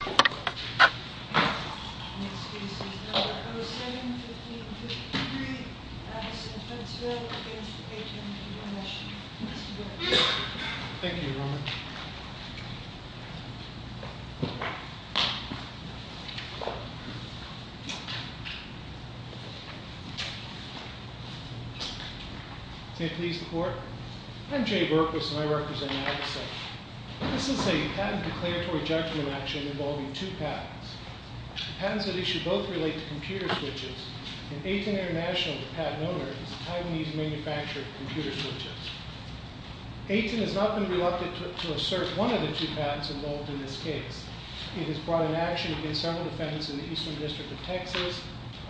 Next case is No. 07-1553, Addison Huntsville v. Aten Intl. Thank you, Your Honor. May it please the Court? I'm Jay Berkowitz and I represent Madison. This is a patent declaratory judgment action involving two patents. The patents at issue both relate to computer switches, and Aten International, the patent owner, is a Taiwanese manufacturer of computer switches. Aten has not been reluctant to assert one of the two patents involved in this case. It has brought an action against several defendants in the Eastern District of Texas,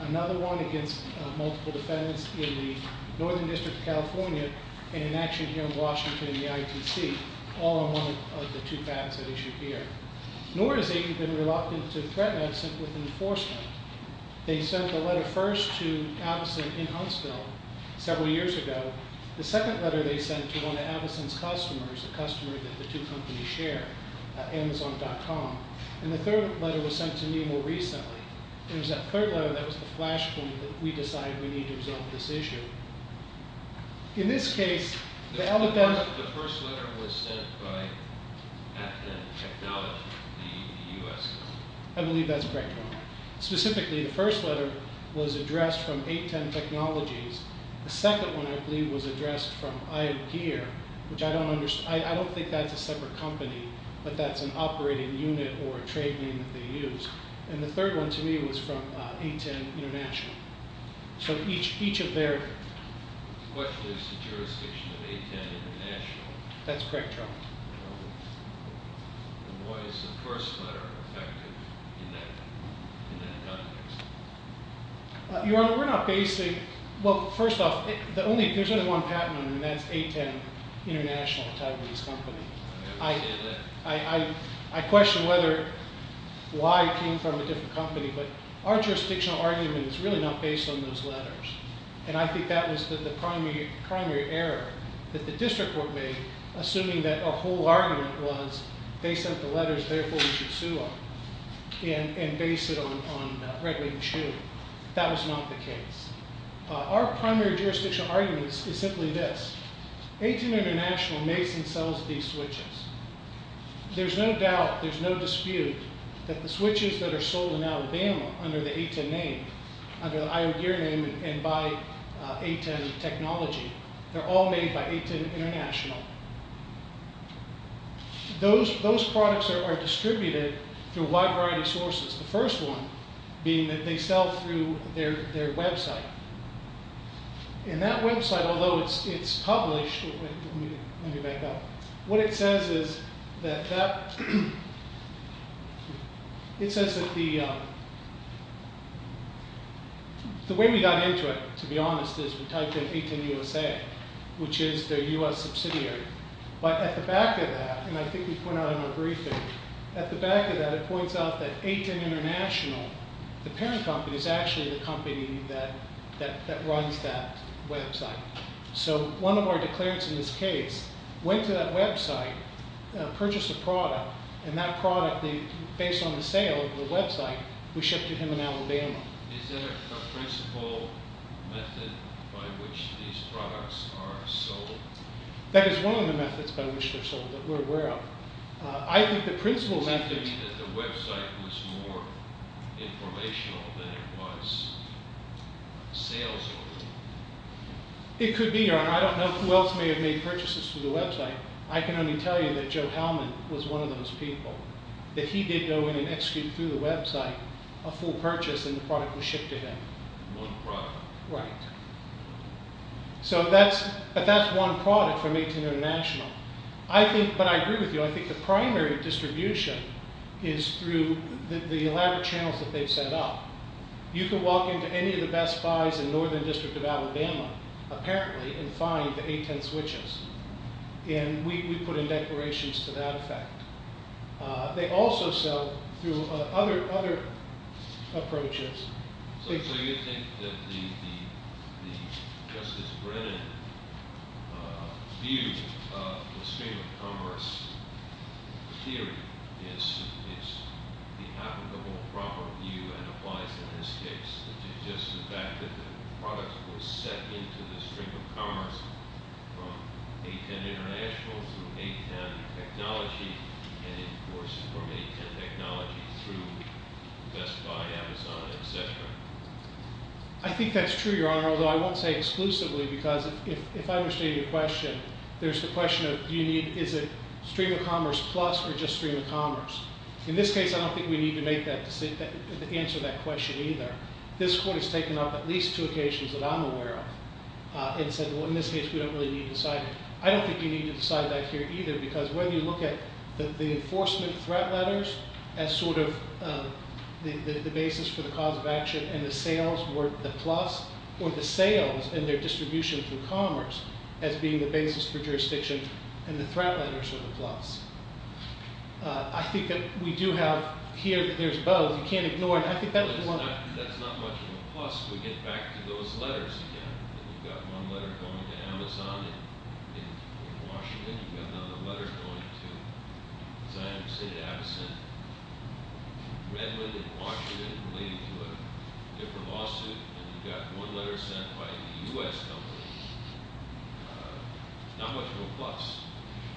another one against multiple defendants in the Northern District of California, and an action here in Washington in the ITC, all on one of the two patents at issue here. Nor has Aten been reluctant to threaten Addison with enforcement. They sent the letter first to Addison in Huntsville several years ago. The second letter they sent to one of Addison's customers, a customer that the two companies share, Amazon.com, and the third letter was sent to me more recently. It was that third letter that was the flash point that we decided we need to resolve this issue. In this case, the Alabama— The first letter was sent by Aten Technology, the U.S. company. I believe that's correct, Your Honor. Specifically, the first letter was addressed from Aten Technologies. The second one, I believe, was addressed from Iopeer, which I don't think that's a separate company, but that's an operating unit or a trade name that they use. And the third one to me was from Aten International. So each of their— The question is the jurisdiction of Aten International. That's correct, Your Honor. And why is the first letter effective in that context? Your Honor, we're not basically— Well, first off, there's only one patent on them, and that's Aten International, a Taiwanese company. I understand that. I question whether—why it came from a different company, but our jurisdictional argument is really not based on those letters. And I think that was the primary error that the district court made, assuming that a whole argument was they sent the letters, therefore we should sue them, and base it on Red Wing's shoe. That was not the case. Our primary jurisdictional argument is simply this. Aten International makes and sells these switches. There's no doubt, there's no dispute that the switches that are sold in Alabama under the Aten name, under the Iowa gear name and by Aten technology, they're all made by Aten International. Those products are distributed through a wide variety of sources, the first one being that they sell through their website. And that website, although it's published— Let me back up. What it says is that— It says that the— The way we got into it, to be honest, is we typed in Aten USA, which is their U.S. subsidiary. But at the back of that, and I think we point out in our briefing, at the back of that it points out that Aten International, the parent company, is actually the company that runs that website. So one of our declarants in this case went to that website, purchased a product, and that product, based on the sale of the website, was shipped to him in Alabama. Is there a principal method by which these products are sold? That is one of the methods by which they're sold that we're aware of. I think the principal method— The website was more informational than it was sales-oriented. It could be, Your Honor. I don't know who else may have made purchases through the website. I can only tell you that Joe Hellman was one of those people, that he did go in and execute through the website a full purchase, and the product was shipped to him. One product. Right. But that's one product from Aten International. But I agree with you. I think the primary distribution is through the elaborate channels that they've set up. You can walk into any of the Best Buys in Northern District of Alabama, apparently, and find the Aten switches. And we put in declarations to that effect. They also sell through other approaches. So you think that the Justice Brennan view of the stream of commerce theory is behalf of the whole proper view and applies in this case, which is just the fact that the product was sent into the stream of commerce from Aten International through Aten Technology, and, of course, from Aten Technology through Best Buy, Amazon, et cetera? I think that's true, Your Honor, although I won't say exclusively because if I understand your question, there's the question of do you need, is it stream of commerce plus or just stream of commerce? In this case, I don't think we need to make that decision to answer that question either. This court has taken up at least two occasions that I'm aware of and said, well, in this case, we don't really need to decide. I don't think you need to decide that here either because whether you look at the enforcement threat letters as sort of the basis for the cause of action and the sales were the plus or the sales and their distribution through commerce as being the basis for jurisdiction and the threat letters were the plus. I think that we do have here that there's both. You can't ignore it. I think that's one. That's not much of a plus if we get back to those letters again. You've got one letter going to Amazon in Washington. You've got another letter going to, as I understand, to Amazon in Redmond in Washington related to a different lawsuit, and you've got one letter sent by a U.S. company. Not much of a plus.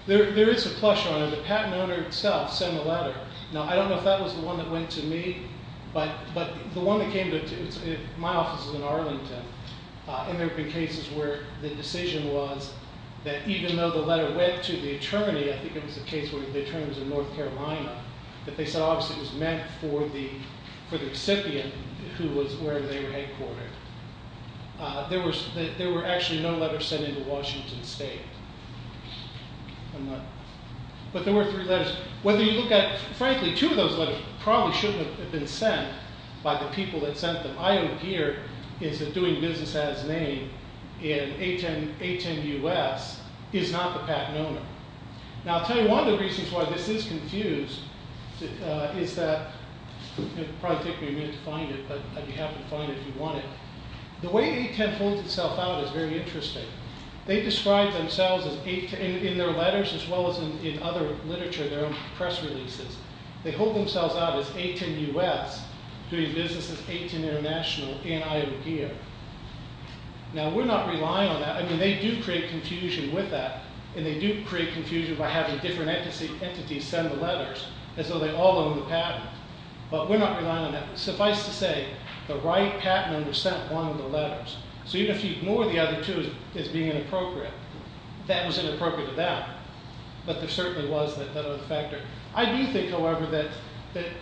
There is a plus, Your Honor. The patent owner itself sent a letter. Now, I don't know if that was the one that went to me, but the one that came to my office was in Arlington, and there have been cases where the decision was that even though the letter went to the attorney, I think it was the case where the attorney was in North Carolina, that they said obviously it was meant for the recipient who was where they were headquartered. There were actually no letters sent into Washington State. But there were three letters. Whether you look at, frankly, two of those letters probably shouldn't have been sent by the people that sent them. What I don't hear is that doing business as named in A10 U.S. is not the patent owner. Now, I'll tell you one of the reasons why this is confused is that it'll probably take me a minute to find it, but you have to find it if you want it. The way A10 holds itself out is very interesting. They describe themselves in their letters as well as in other literature, their own press releases. They hold themselves out as A10 U.S. doing business as A10 International and Iowa Gear. Now, we're not relying on that. I mean, they do create confusion with that, and they do create confusion by having different entities send the letters as though they all own the patent. But we're not relying on that. Suffice to say, the right patent owner sent one of the letters. So even if you ignore the other two as being inappropriate, that was inappropriate to them. But there certainly was that other factor. I do think, however, that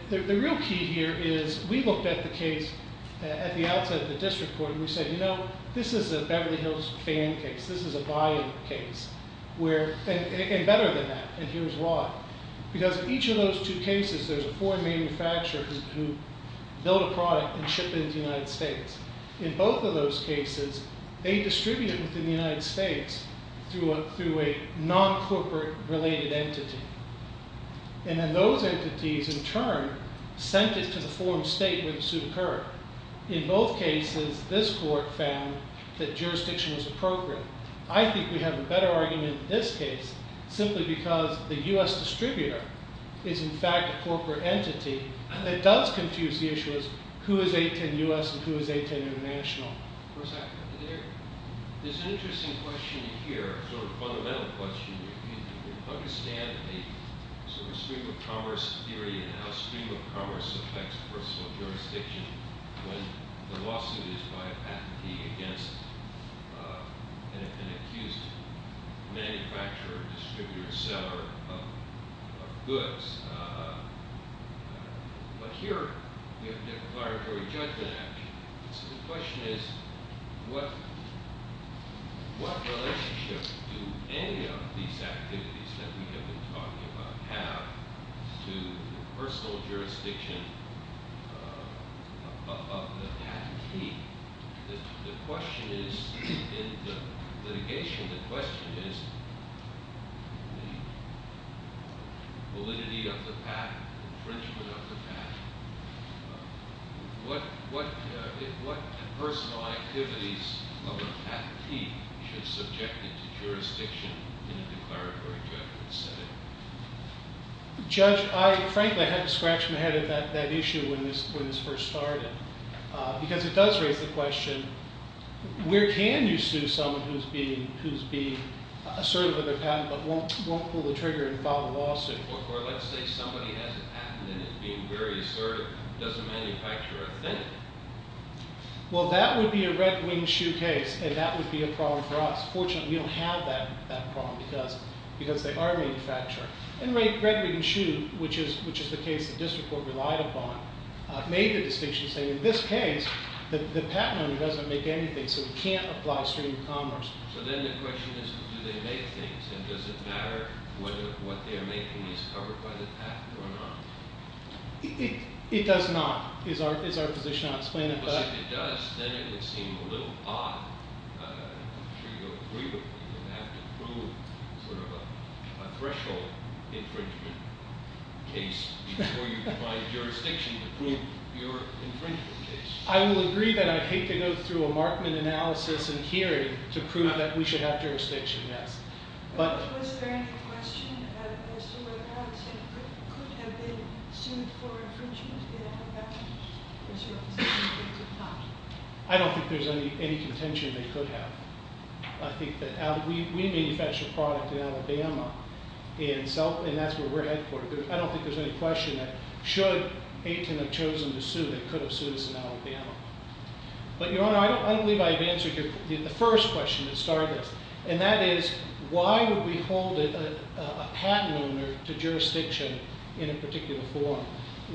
the real key here is we looked at the case at the outset of the district court, and we said, you know, this is a Beverly Hills fan case. This is a buy-in case. And better than that, and here's why. Because each of those two cases, there's a foreign manufacturer who built a product and shipped it to the United States. In both of those cases, they distribute it within the United States through a non-corporate-related entity. And then those entities, in turn, sent it to the foreign state where the suit occurred. In both cases, this court found that jurisdiction was appropriate. I think we have a better argument in this case simply because the U.S. distributor is, in fact, a corporate entity that does confuse the issues who is A10 U.S. and who is A10 International. There's an interesting question here, a sort of fundamental question. You understand the sort of stream-of-commerce theory and how stream-of-commerce affects personal jurisdiction when the lawsuit is by a patentee against an accused manufacturer, distributor, seller of goods. But here, we have declaratory judgment action. So the question is, what relationship do any of these activities that we have been talking about have to personal jurisdiction of the patentee? The question is, in the litigation, the question is validity of the patent, infringement of the patent. What personal activities of a patentee should subject it to jurisdiction in a declaratory judgment setting? Judge, I frankly had to scratch my head at that issue when this first started because it does raise the question, where can you sue someone who's being assertive of their patent but won't pull the trigger and file a lawsuit? Or let's say somebody has a patent and is being very assertive. Does the manufacturer offend them? Well, that would be a red-winged shoe case, and that would be a problem for us. Fortunately, we don't have that problem because they are manufacturing. And red-winged shoe, which is the case the district court relied upon, made the distinction saying, in this case, the patent owner doesn't make anything, so he can't apply stream-of-commerce. So then the question is, do they make things? And does it matter whether what they are making is covered by the patent or not? It does not, is our position on explaining it. Well, if it does, then it would seem a little odd. I'm sure you would agree with me. You would have to prove sort of a threshold infringement case before you can find jurisdiction to prove your infringement case. I will agree that I'd hate to go through a Markman analysis and hearing to prove that we should have jurisdiction, yes. Was there any question as to whether Aten could have been sued for infringement in Alabama versus Brazil? I don't think there's any contention they could have. We manufacture a product in Alabama, and that's where we're headquartered. I don't think there's any question that should Aten have chosen to sue, they could have sued us in Alabama. But, Your Honor, I don't believe I've answered the first question that started this. And that is, why would we hold a patent owner to jurisdiction in a particular form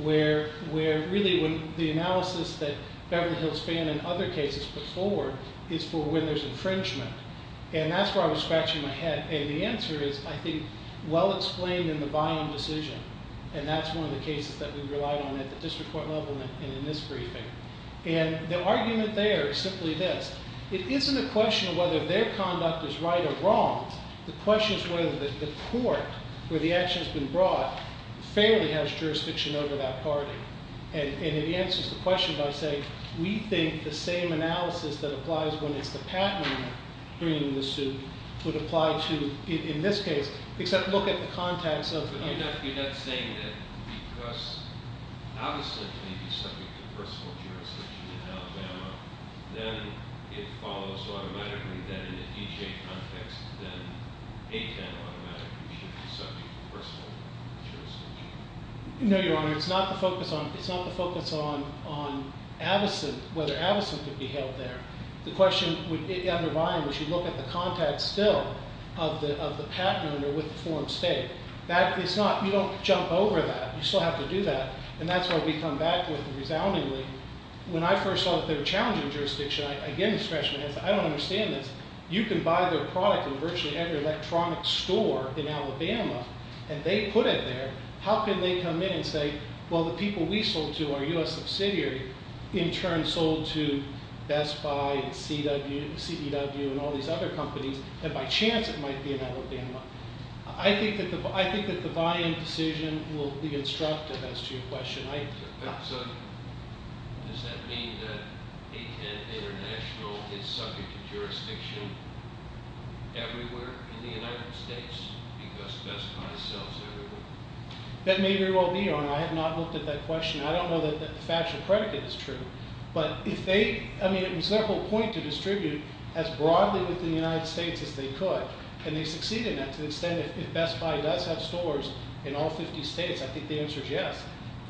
where really the analysis that Beverly Hills Ban and other cases put forward is for when there's infringement? And that's where I was scratching my head. And the answer is, I think, well explained in the buy-in decision. And that's one of the cases that we relied on at the district court level and in this briefing. And the argument there is simply this. It isn't a question of whether their conduct is right or wrong. The question is whether the court where the action has been brought fairly has jurisdiction over that party. And it answers the question by saying, we think the same analysis that applies when it's the patent owner bringing the suit would apply to, in this case, except look at the context of the case. Jeff, you're not saying that because Avison can be subject to personal jurisdiction in Alabama, then it follows automatically that in a DHA context, then ATAN automatically should be subject to personal jurisdiction? No, Your Honor. It's not the focus on Avison, whether Avison could be held there. The question would be, under Ryan, we should look at the context still of the patent owner with the form state. You don't jump over that. You still have to do that. And that's what we come back with resoundingly. When I first saw that they were challenging jurisdiction, again this freshman answer, I don't understand this. You can buy their product in virtually every electronic store in Alabama and they put it there. How can they come in and say, well, the people we sold to, our U.S. subsidiary, in turn sold to Best Buy and CDW and all these other companies, and by chance it might be in Alabama. I think that the buy-in decision will be instructive as to your question. Does that mean that ATAN International is subject to jurisdiction everywhere in the United States because Best Buy sells everywhere? That may very well be, Your Honor. I have not looked at that question. I don't know that the factual predicate is true. But if they – I mean, it was their whole point to distribute as broadly within the United States as they could, and they succeeded at that. To the extent that Best Buy does have stores in all 50 states, I think the answer is yes.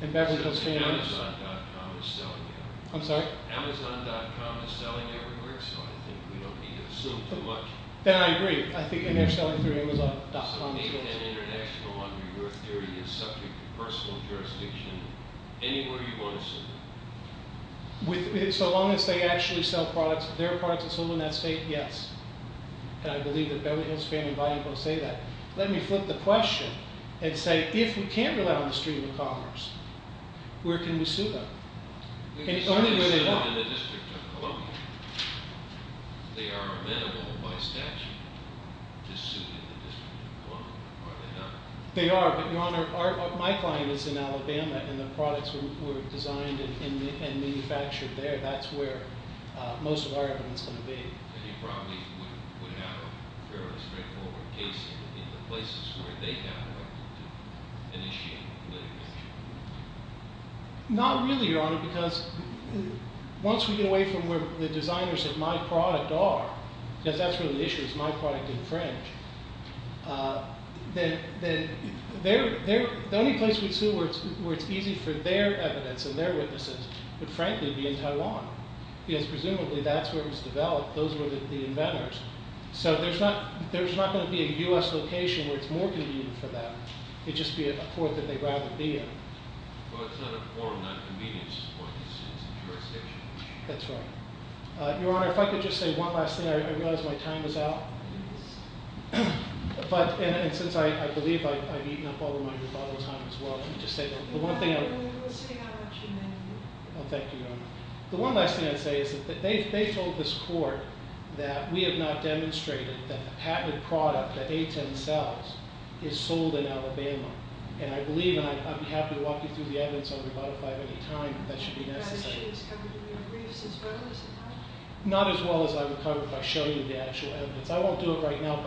And Beverly Hills Family – Certainly Amazon.com is selling everywhere. I'm sorry? Amazon.com is selling everywhere, so I think we don't need to assume too much. Then I agree. I think they're selling through Amazon.com. So ATAN International, under your theory, is subject to personal jurisdiction anywhere you want to sell. So long as they actually sell products, their products are sold in that state, yes. And I believe that Beverly Hills Family and Valuable say that. Let me flip the question and say, if we can't rely on the Street of Commerce, where can we sue them? And it's only where they are. They can sue them in the District of Columbia. They are amenable by statute to sue in the District of Columbia. Are they not? They are, but, Your Honor, my client is in Alabama, and the products were designed and manufactured there. That's where most of our evidence is going to be. And you probably would have a fairly straightforward case in the places where they have the right to initiate litigation. Not really, Your Honor, because once we get away from where the designers of my product are, because that's where the issue is, my product in French, then the only place we'd sue where it's easy for their evidence and their witnesses would, frankly, be in Taiwan, because presumably that's where it was developed. Those were the inventors. So there's not going to be a U.S. location where it's more convenient for them. It'd just be a court that they'd rather be in. Well, it's not a formal non-convenience court. It's a jurisdiction. That's right. Your Honor, if I could just say one last thing. I realize my time is out. And since I believe I've eaten up all of my rebuttal time as well, if I could just say one thing. No, no, no. We'll stick out about two minutes. Oh, thank you, Your Honor. The one last thing I'd say is that they've told this court that we have not demonstrated that the patented product that A10 sells is sold in Alabama. And I believe, and I'd be happy to walk you through the evidence on rebuttal time at any time if that should be necessary. Not as well as I would cover it if I showed you the actual evidence. I won't do it right now,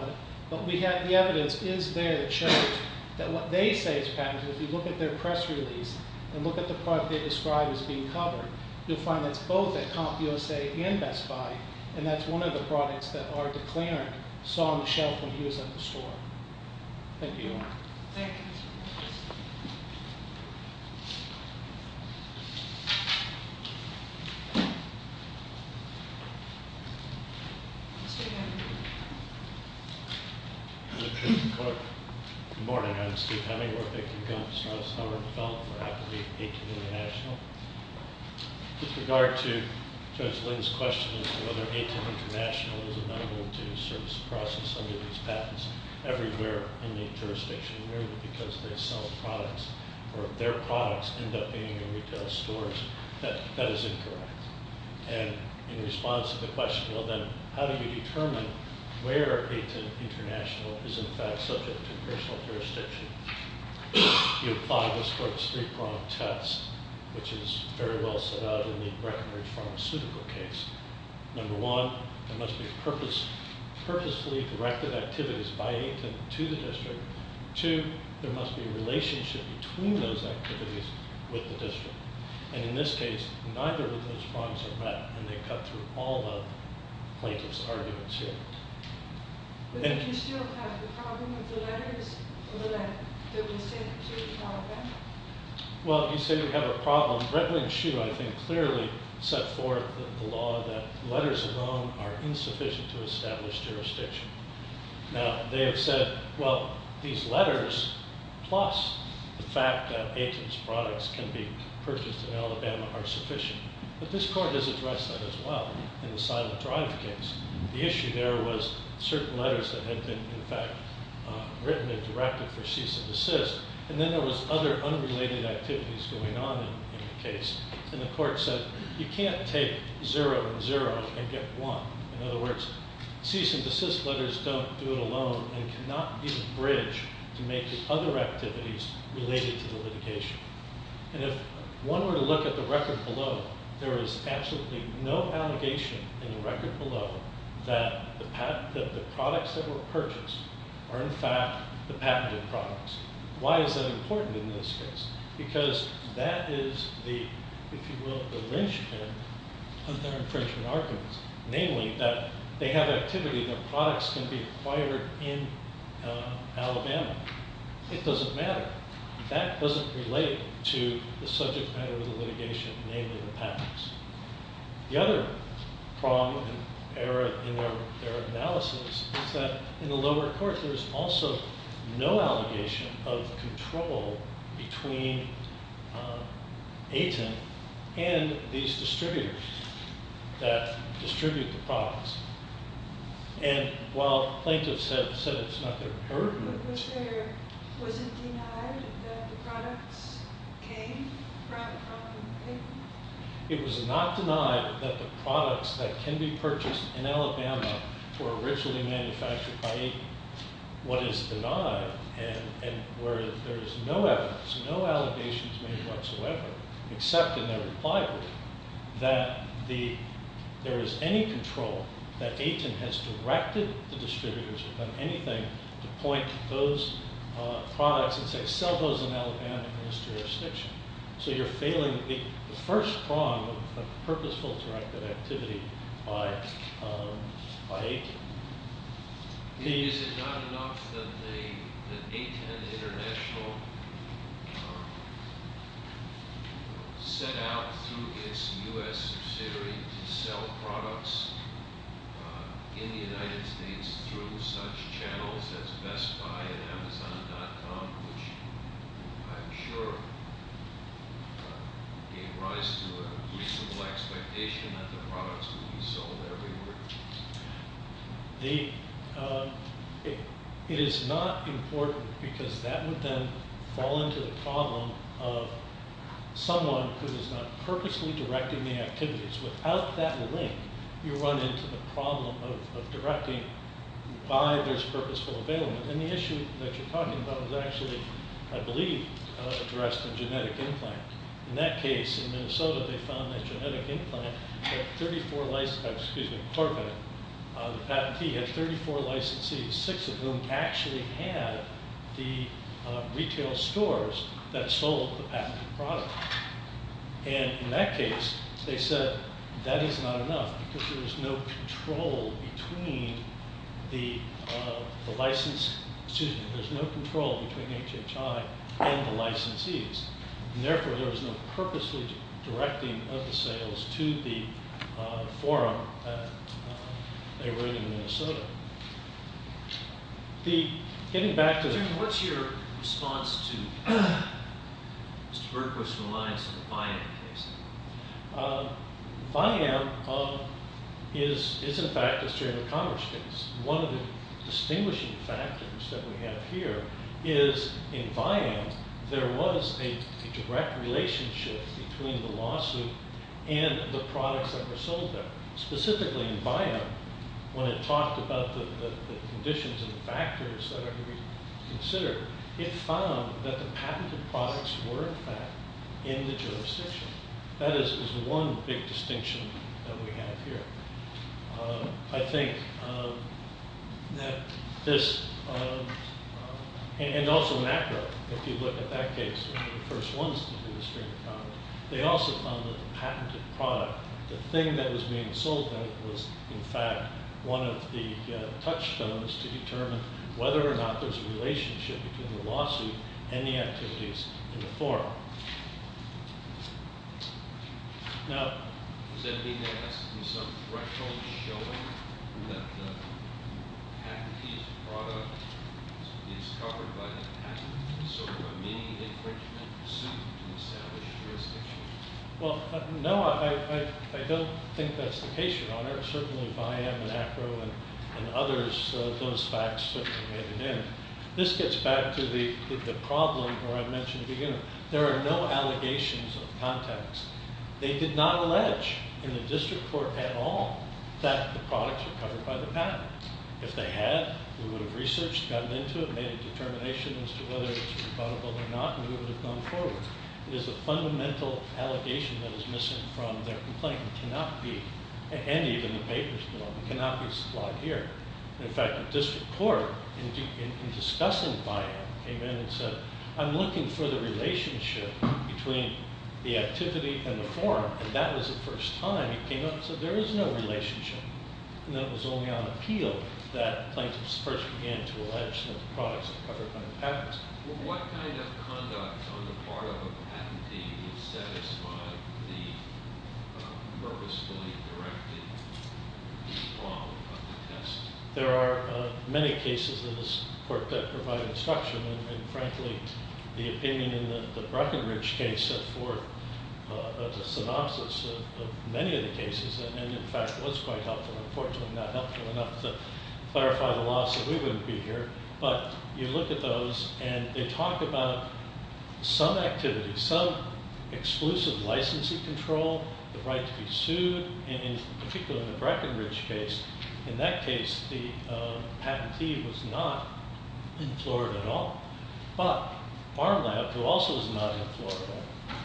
but the evidence is there that shows that what they say is patented, if you look at their press release and look at the product they describe as being covered, you'll find that it's both at CompUSA and Best Buy, and that's one of the products that our declarant saw on the shelf when he was at the store. Thank you. Thank you. Good morning. I'm Steve Hemingworth. I work at CompUSA. I'm a developer at A10 International. With regard to Judge Lynn's question as to whether A10 International is a member of the service process under these patents, everywhere in the jurisdiction, merely because they sell products or their products end up being in retail stores, that is incorrect. where A10 International is in fact subject to personal jurisdiction. You apply this for a three-pronged test, which is very well set out in the Breckenridge Pharmaceutical case. Number one, there must be purposefully directed activities by A10 to the district. Two, there must be a relationship between those activities with the district. And in this case, neither of those prongs are met, and they cut through all the plaintiff's arguments here. But do you still have the problem with the letters that were sent to Alabama? Well, you say we have a problem. Brett Lynn Shue, I think, clearly set forth the law that letters alone are insufficient to establish jurisdiction. Now, they have said, well, these letters, plus the fact that A10's products can be purchased in Alabama are sufficient. But this court has addressed that as well in the Silent Drive case. The issue there was certain letters that had been, in fact, written and directed for cease and desist, and then there was other unrelated activities going on in the case. And the court said you can't take zero and zero and get one. In other words, cease and desist letters don't do it alone and cannot be the bridge to make other activities related to the litigation. And if one were to look at the record below, there is absolutely no allegation in the record below that the products that were purchased are, in fact, the patented products. Why is that important in this case? Because that is the, if you will, the lynchpin of their infringement arguments, namely that they have activity, their products can be acquired in Alabama. It doesn't matter. That doesn't relate to the subject matter of the litigation, namely the patents. The other problem in their analysis is that in the lower court, there is also no allegation of control between A10 and these distributors that distribute the products. And while plaintiffs have said it's not their burden, was it denied that the products came from A10? It was not denied that the products that can be purchased in Alabama were originally manufactured by A10. What is denied, and where there is no evidence, no allegations made whatsoever except in their reply brief, that there is any control that A10 has directed the distributors or done anything to point to those products and say, sell those in Alabama in this jurisdiction. So you're failing the first prong of the purposeful directive activity by A10. Is it not enough that A10 International set out through its U.S. subsidiary to sell products in the United States through such channels as Best Buy and Amazon.com, which I'm sure gave rise to a reasonable expectation that the products would be sold everywhere? It is not important because that would then fall into the problem of someone who is not purposely directing the activities. Without that link, you run into the problem of directing by this purposeful availment. And the issue that you're talking about was actually, I believe, addressed in genetic implant. In that case, in Minnesota, they found that genetic implant had 34 licensees, six of whom actually had the retail stores that sold the patented product. And in that case, they said that is not enough because there is no control between the licensee. There's no control between HHI and the licensees. And therefore, there was no purposely directing of the sales to the forum they were in in Minnesota. Getting back to the- What's your response to Mr. Berkowitz's reliance on the Viam case? Viam is, in fact, a State of Commerce case. One of the distinguishing factors that we have here is in Viam, there was a direct relationship between the lawsuit and the products that were sold there. Specifically in Viam, when it talked about the conditions and the factors that are to be considered, it found that the patented products were, in fact, in the jurisdiction. That is one big distinction that we have here. I think that this- And also MACRA, if you look at that case, were the first ones to do this kind of problem. They also found that the patented product, the thing that was being sold there, was, in fact, one of the touchstones to determine whether or not there's a relationship between the lawsuit and the activities in the forum. Now- Does that mean there has to be some threshold showing that the patented product is covered by the patent? It's sort of a mini infringement suit to establish jurisdiction? Well, no, I don't think that's the case, Your Honor. Certainly Viam and ACRO and others, those facts certainly made it in. This gets back to the problem where I mentioned at the beginning. There are no allegations of contacts. They did not allege in the district court at all that the products are covered by the patent. If they had, we would have researched, gotten into it, made a determination as to whether it's rebuttable or not, and we would have gone forward. It is a fundamental allegation that is missing from their complaint and cannot be, and even the papers belong, cannot be supplied here. In fact, the district court, in discussing Viam, came in and said, I'm looking for the relationship between the activity and the forum, and that was the first time he came up and said there is no relationship, and that was only on appeal that plaintiffs first began to allege that the products are covered by the patent. What kind of conduct on the part of a patentee would satisfy the purposefully directed law of the test? There are many cases in this court that provide instruction, and frankly, the opinion in the Breckenridge case set forth a synopsis of many of the cases, and in fact was quite helpful. Unfortunately, not helpful enough to clarify the law, so we wouldn't be here, but you look at those, and they talk about some activity, some exclusive licensing control, the right to be sued, and particularly in the Breckenridge case, in that case the patentee was not in Florida at all, but Farm Lab, who also was not in Florida,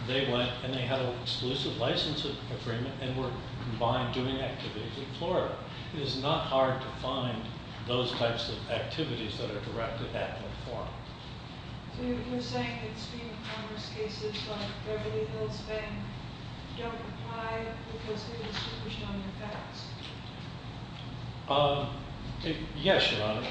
they went and they had an exclusive license agreement and were combined doing activities in Florida. It is not hard to find those types of activities that are directed at the forum. So you're saying that stream of commerce cases like Beverly Hills Bank don't apply because there is confusion on the facts? Yes, Your Honor.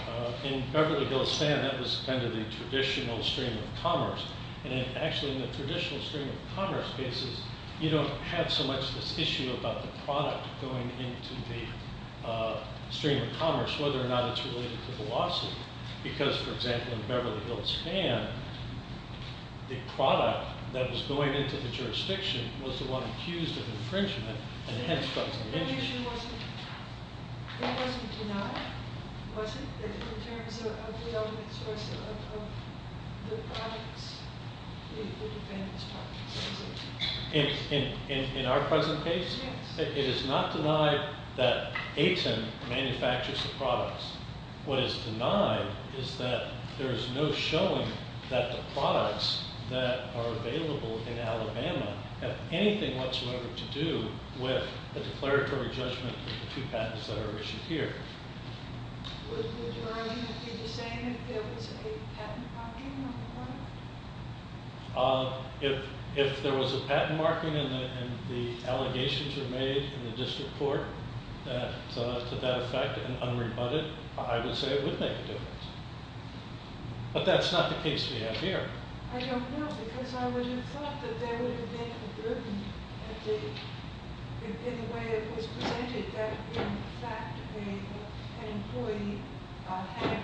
In Beverly Hills Bank, that was kind of the traditional stream of commerce, and actually in the traditional stream of commerce cases, you don't have so much this issue about the product going into the stream of commerce, whether or not it's related to the lawsuit. Because, for example, in Beverly Hills Ban, the product that was going into the jurisdiction was the one accused of infringement, and hence doesn't interest you. It wasn't denied, was it, in terms of the ultimate source of the products? In our present case, it is not denied that AITM manufactures the products. What is denied is that there is no showing that the products that are available in Alabama have anything whatsoever to do with the declaratory judgment of the two patents that are issued here. Would your argument be the same if there was a patent marking on the product? If there was a patent marking and the allegations were made in the district court to that effect and unrebutted, I would say it would make a difference. But that's not the case we have here. I don't know, because I would have thought that there would have been a burden in the way it was presented, that in fact an employee had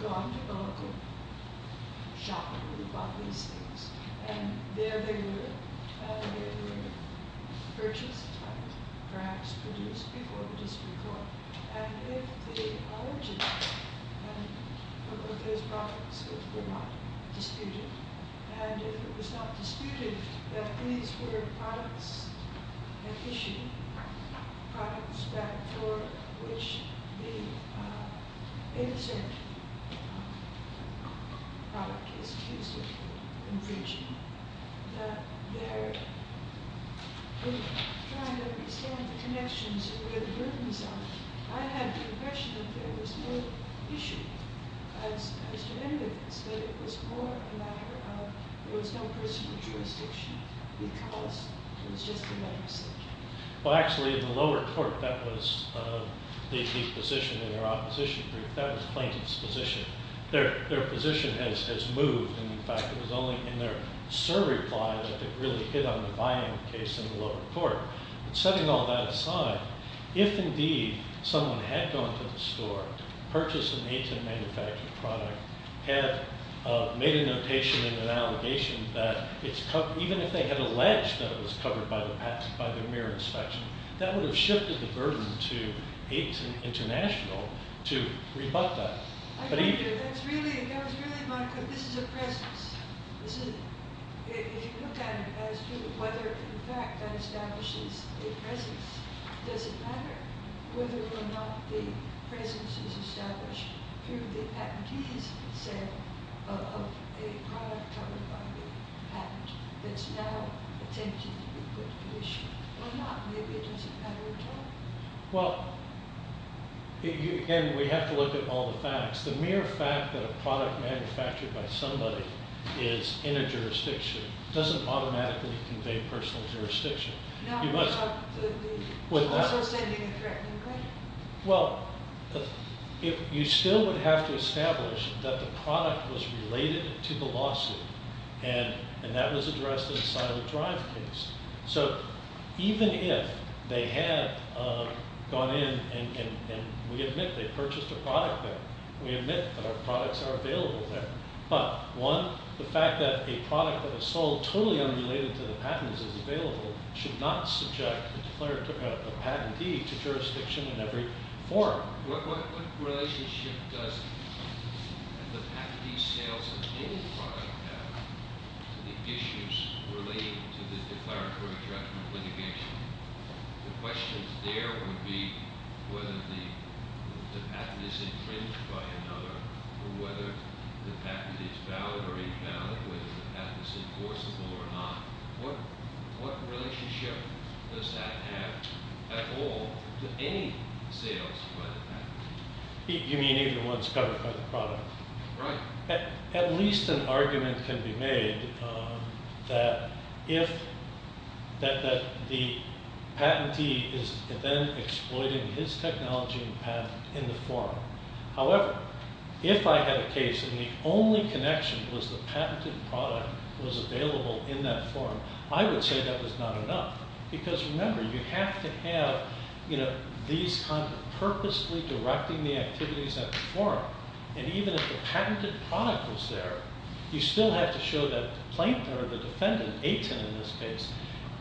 gone to a local shop and bought these things. And there they were purchased, perhaps produced, before the district court. And if the origin of those products were not disputed, and if it was not disputed that these were products issued, products for which the insert product is accused of infringement, that they're trying to extend the connections where the burdens are. I had the impression that there was no issue as to any of this, that it was more a matter of there was no personal jurisdiction, because it was just a matter of safety. Well, actually, in the lower court, that was the position in their opposition group. That was the plaintiff's position. Their position has moved. In fact, it was only in their survey ply that it really hit on the buying case in the lower court. But setting all that aside, if indeed someone had gone to the store, purchased an AITM manufactured product, had made a notation and an allegation that it's covered, even if they had alleged that it was covered by the mere inspection, that would have shifted the burden to AITM International to rebut that. I agree with you. That was really my concern. This is a presence. If you look at it as to whether, in fact, that establishes a presence, does it matter? Whether or not the presence is established through the patentee's consent of a product covered by the patent that's now attempting to be put to issue or not, maybe it doesn't matter at all. Well, again, we have to look at all the facts. The mere fact that a product manufactured by somebody is in a jurisdiction doesn't automatically convey personal jurisdiction. No, but also sending a threatening letter. Well, you still would have to establish that the product was related to the lawsuit, and that was addressed in the silent drive case. So even if they had gone in and we admit they purchased a product there, we admit that our products are available there, but one, the fact that a product that is sold totally unrelated to the patents is available should not subject a patentee to jurisdiction in every forum. What relationship does the patentee's sales of any product have to the issues relating to the declaratory judgment litigation? The questions there would be whether the patent is infringed by another or whether the patent is valid or invalid, whether the patent is enforceable or not. What relationship does that have at all to any sales by the patentee? You mean even ones covered by the product? Right. At least an argument can be made that the patentee is then exploiting his technology and patent in the forum. However, if I had a case and the only connection was the patented product was available in that forum, I would say that was not enough because, remember, you have to have these kinds of purposely directing the activities at the forum, and even if the patented product was there, you still have to show that the defendant, Aten in this case,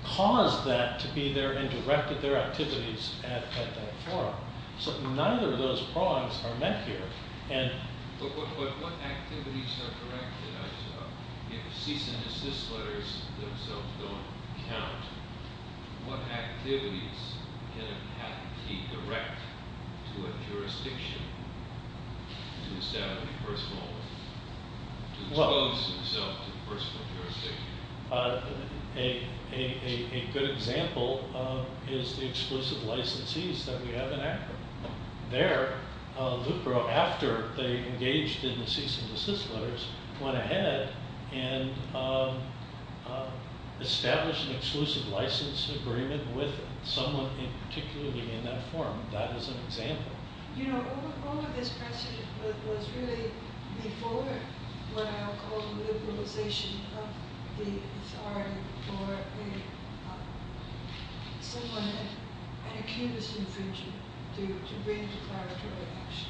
caused that to be there and directed their activities at that forum. So neither of those prongs are met here. But what activities are directed? If cease and desist letters themselves don't count, what activities can a patentee direct to a jurisdiction to expose himself to personal jurisdiction? A good example is the exclusive licensees that we have in Akron. There, LUPRO, after they engaged in the cease and desist letters, went ahead and established an exclusive license agreement with someone particularly in that forum. That is an example. You know, all of this precedent was really before what I'll call the liberalization of the authority for someone with an accused infringement to bring declaratory action.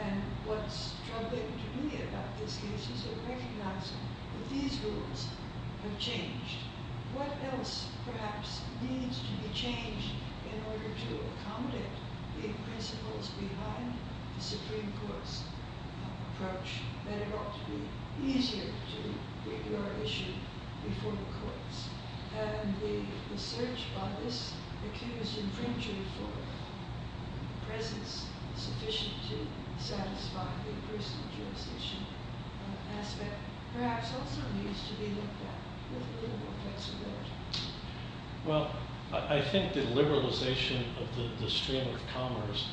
And what's troubling to me about this case is recognizing that these rules have changed. What else perhaps needs to be changed in order to accommodate the principles behind the Supreme Court's approach that it ought to be easier to review our issue before the courts? And the search by this accused infringer for presence sufficient to satisfy the personal jurisdiction aspect perhaps also needs to be looked at with a little more flexibility. Well, I think the liberalization of the stream of commerce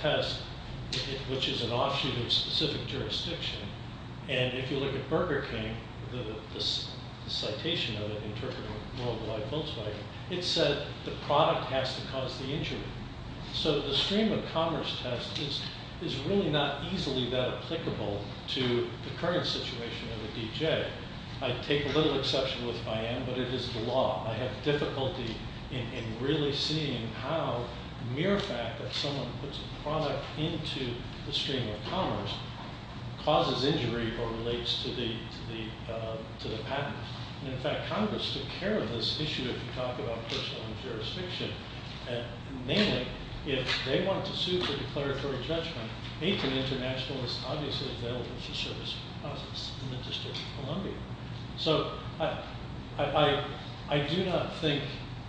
test, which is an offshoot of specific jurisdiction, and if you look at Burger King, the citation of it in terms of worldwide Volkswagen, it said the product has to cause the injury. So the stream of commerce test is really not easily that applicable to the current situation of the D.J. I'd take a little exception with it if I am, but it is the law. I have difficulty in really seeing how mere fact that someone puts a product into the stream of commerce causes injury or relates to the patent. And in fact, Congress took care of this issue if you talk about personal jurisdiction, and mainly if they want to sue for declaratory judgment, they can internationalize obviously the service process in the District of Columbia. So I do not think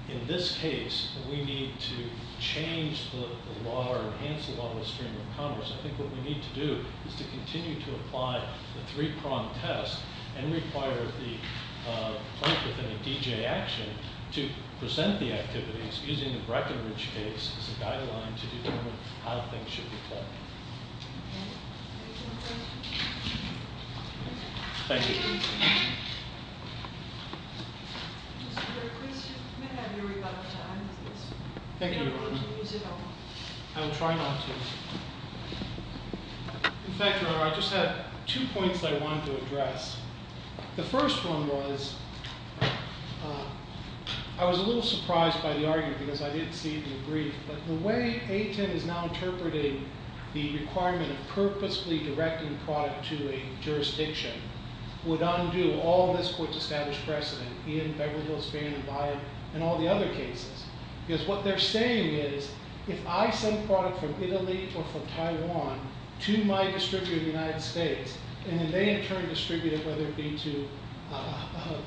in this case we need to change the law or enhance the law of the stream of commerce. I think what we need to do is to continue to apply the three-prong test and require the plaintiff in a D.J. action to present the activities using the Breckenridge case as a guideline to determine how things should be played. Any more questions? Thank you. Mr. Griffiths, you may have your rebuttal time. Thank you, Your Honor. If you don't want to use it, I'll try not to. In fact, Your Honor, I just have two points I wanted to address. The first one was I was a little surprised by the argument because I didn't see it in the brief, but the way A-10 is now interpreting the requirement of purposely directing product to a jurisdiction would undo all of this Court's established precedent in Beverly Hills Van and Byad and all the other cases. Because what they're saying is if I send product from Italy or from Taiwan to my distributor in the United States, and then they in turn distribute it, whether it be to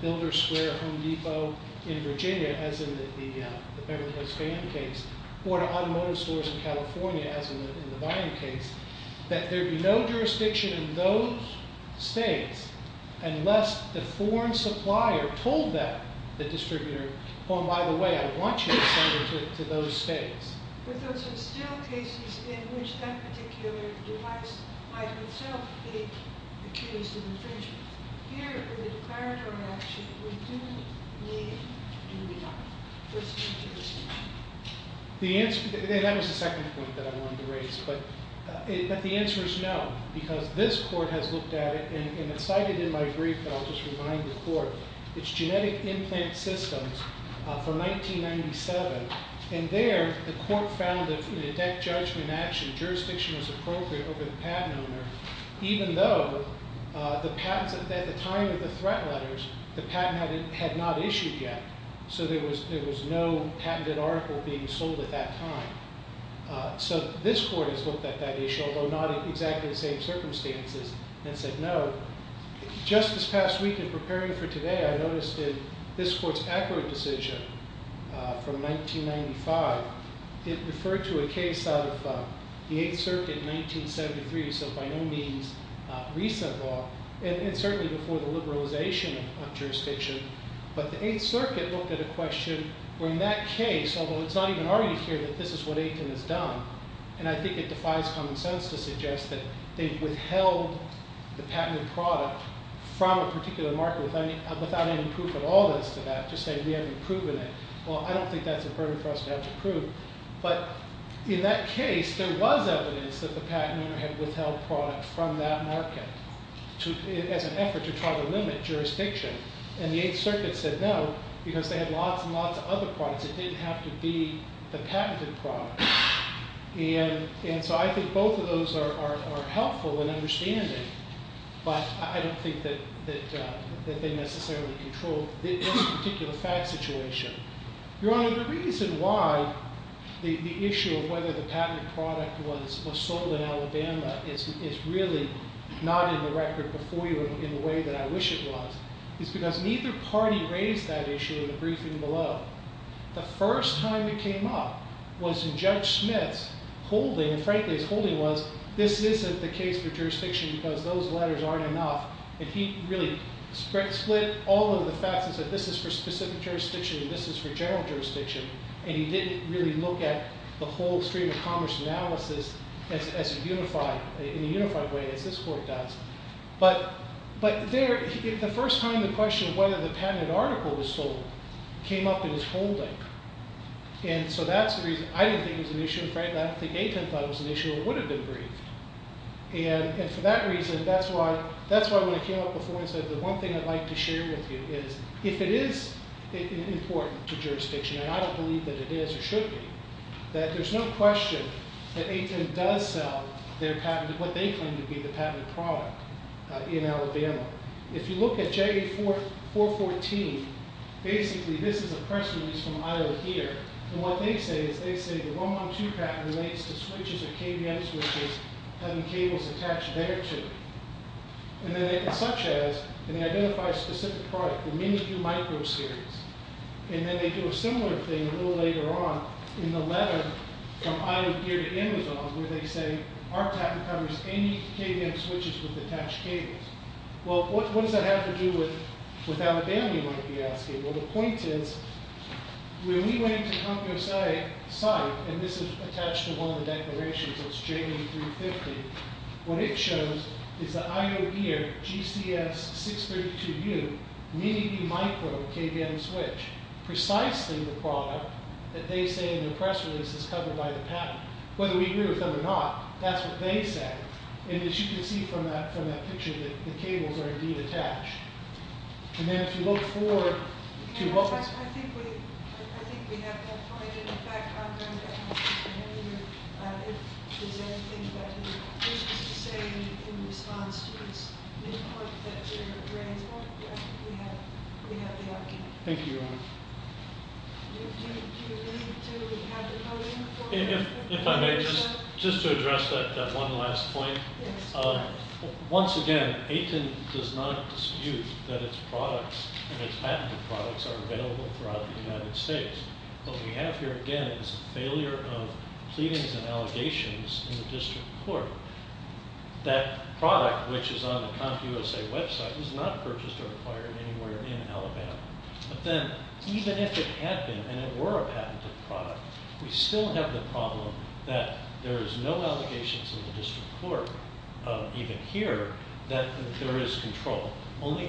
Builders Square, Home Depot in Virginia, as in the Beverly Hills Van case, or to automotive stores in California, as in the Byad case, that there be no jurisdiction in those states unless the foreign supplier told that distributor, oh, and by the way, I want you to send it to those states. But those are still cases in which that particular device might itself be accused of infringement. Here, in the declaratory action, we do, we leave, and we don't. What's your take on that? And that was the second point that I wanted to raise. But the answer is no, because this Court has looked at it, and it's cited in my brief, but I'll just remind the Court, it's genetic implant systems from 1997. And there, the Court found that in a death judgment action, jurisdiction was appropriate over the patent owner, even though the patents at the time of the threat letters, the patent had not issued yet. So there was no patented article being sold at that time. So this Court has looked at that issue, although not in exactly the same circumstances, and said no. Just this past week, in preparing for today, I noticed that this Court's acquittal decision from 1995, it referred to a case out of the Eighth Circuit in 1973, so by no means recent law, and certainly before the liberalization of jurisdiction. But the Eighth Circuit looked at a question where in that case, although it's not even argued here that this is what Aitken has done, and I think it defies common sense to suggest that they've withheld the patented product from a particular market without any proof at all as to that, just saying we haven't proven it. Well, I don't think that's a burden for us to have to prove. But in that case, there was evidence that the patent owner had withheld product from that market, as an effort to try to limit jurisdiction. And the Eighth Circuit said no, because they had lots and lots of other products. It didn't have to be the patented product. And so I think both of those are helpful in understanding, but I don't think that they necessarily control this particular fact situation. Your Honor, the reason why the issue of whether the patented product was sold in Alabama is really not in the record before you in the way that I wish it was is because neither party raised that issue in the briefing below. The first time it came up was in Judge Smith's holding, and frankly his holding was, this isn't the case for jurisdiction because those letters aren't enough. And he really split all of the facts and said this is for specific jurisdiction and this is for general jurisdiction. And he didn't really look at the whole stream of commerce analysis as unified, in a unified way as this court does. But the first time the question of whether the patented article was sold came up in his holding. And so that's the reason. I didn't think it was an issue. Frankly, I don't think A-10 thought it was an issue or would have been briefed. And for that reason, that's why when it came up before, the one thing I'd like to share with you is if it is important to jurisdiction, and I don't believe that it is or should be, that there's no question that A-10 does sell their patent, what they claim to be the patented product in Alabama. If you look at JA-414, basically this is a person who's from Iowa here, and what they say is they say the 112 patent relates to switches or KVM switches having cables attached there to it. And then they can such as, and they identify a specific product, the Mini-Q microseries. And then they do a similar thing a little later on in the letter from Iowa Gear to Amazon where they say our patent covers any KVM switches with attached cables. Well, what does that have to do with Alabama you might be asking? Well, the point is, when we went into the CompusA site, and this is attached to one of the declarations, it's JA-350, what it shows is that Iowa Gear GCS-632U Mini-E micro KVM switch, precisely the product that they say in the press release is covered by the patent. Whether we agree with them or not, that's what they said. And as you can see from that picture, the cables are indeed attached. And then if you look forward to what was… I think we have that point. In fact, I'm going to ask Mr. Manning if there's anything that he wishes to say in response to this report that you're bringing forward. We have the opportunity. Thank you, Your Honor. Do you need to have the podium for that? If I may, just to address that one last point. Once again, AITN does not dispute that its products and its patented products are available throughout the United States. What we have here, again, is a failure of pleadings and allegations in the district court. That product, which is on the CompusA website, was not purchased or acquired anywhere in Alabama. But then even if it had been and it were a patented product, we still have the problem that there is no allegations in the district court, even here, that there is control. Only inferences.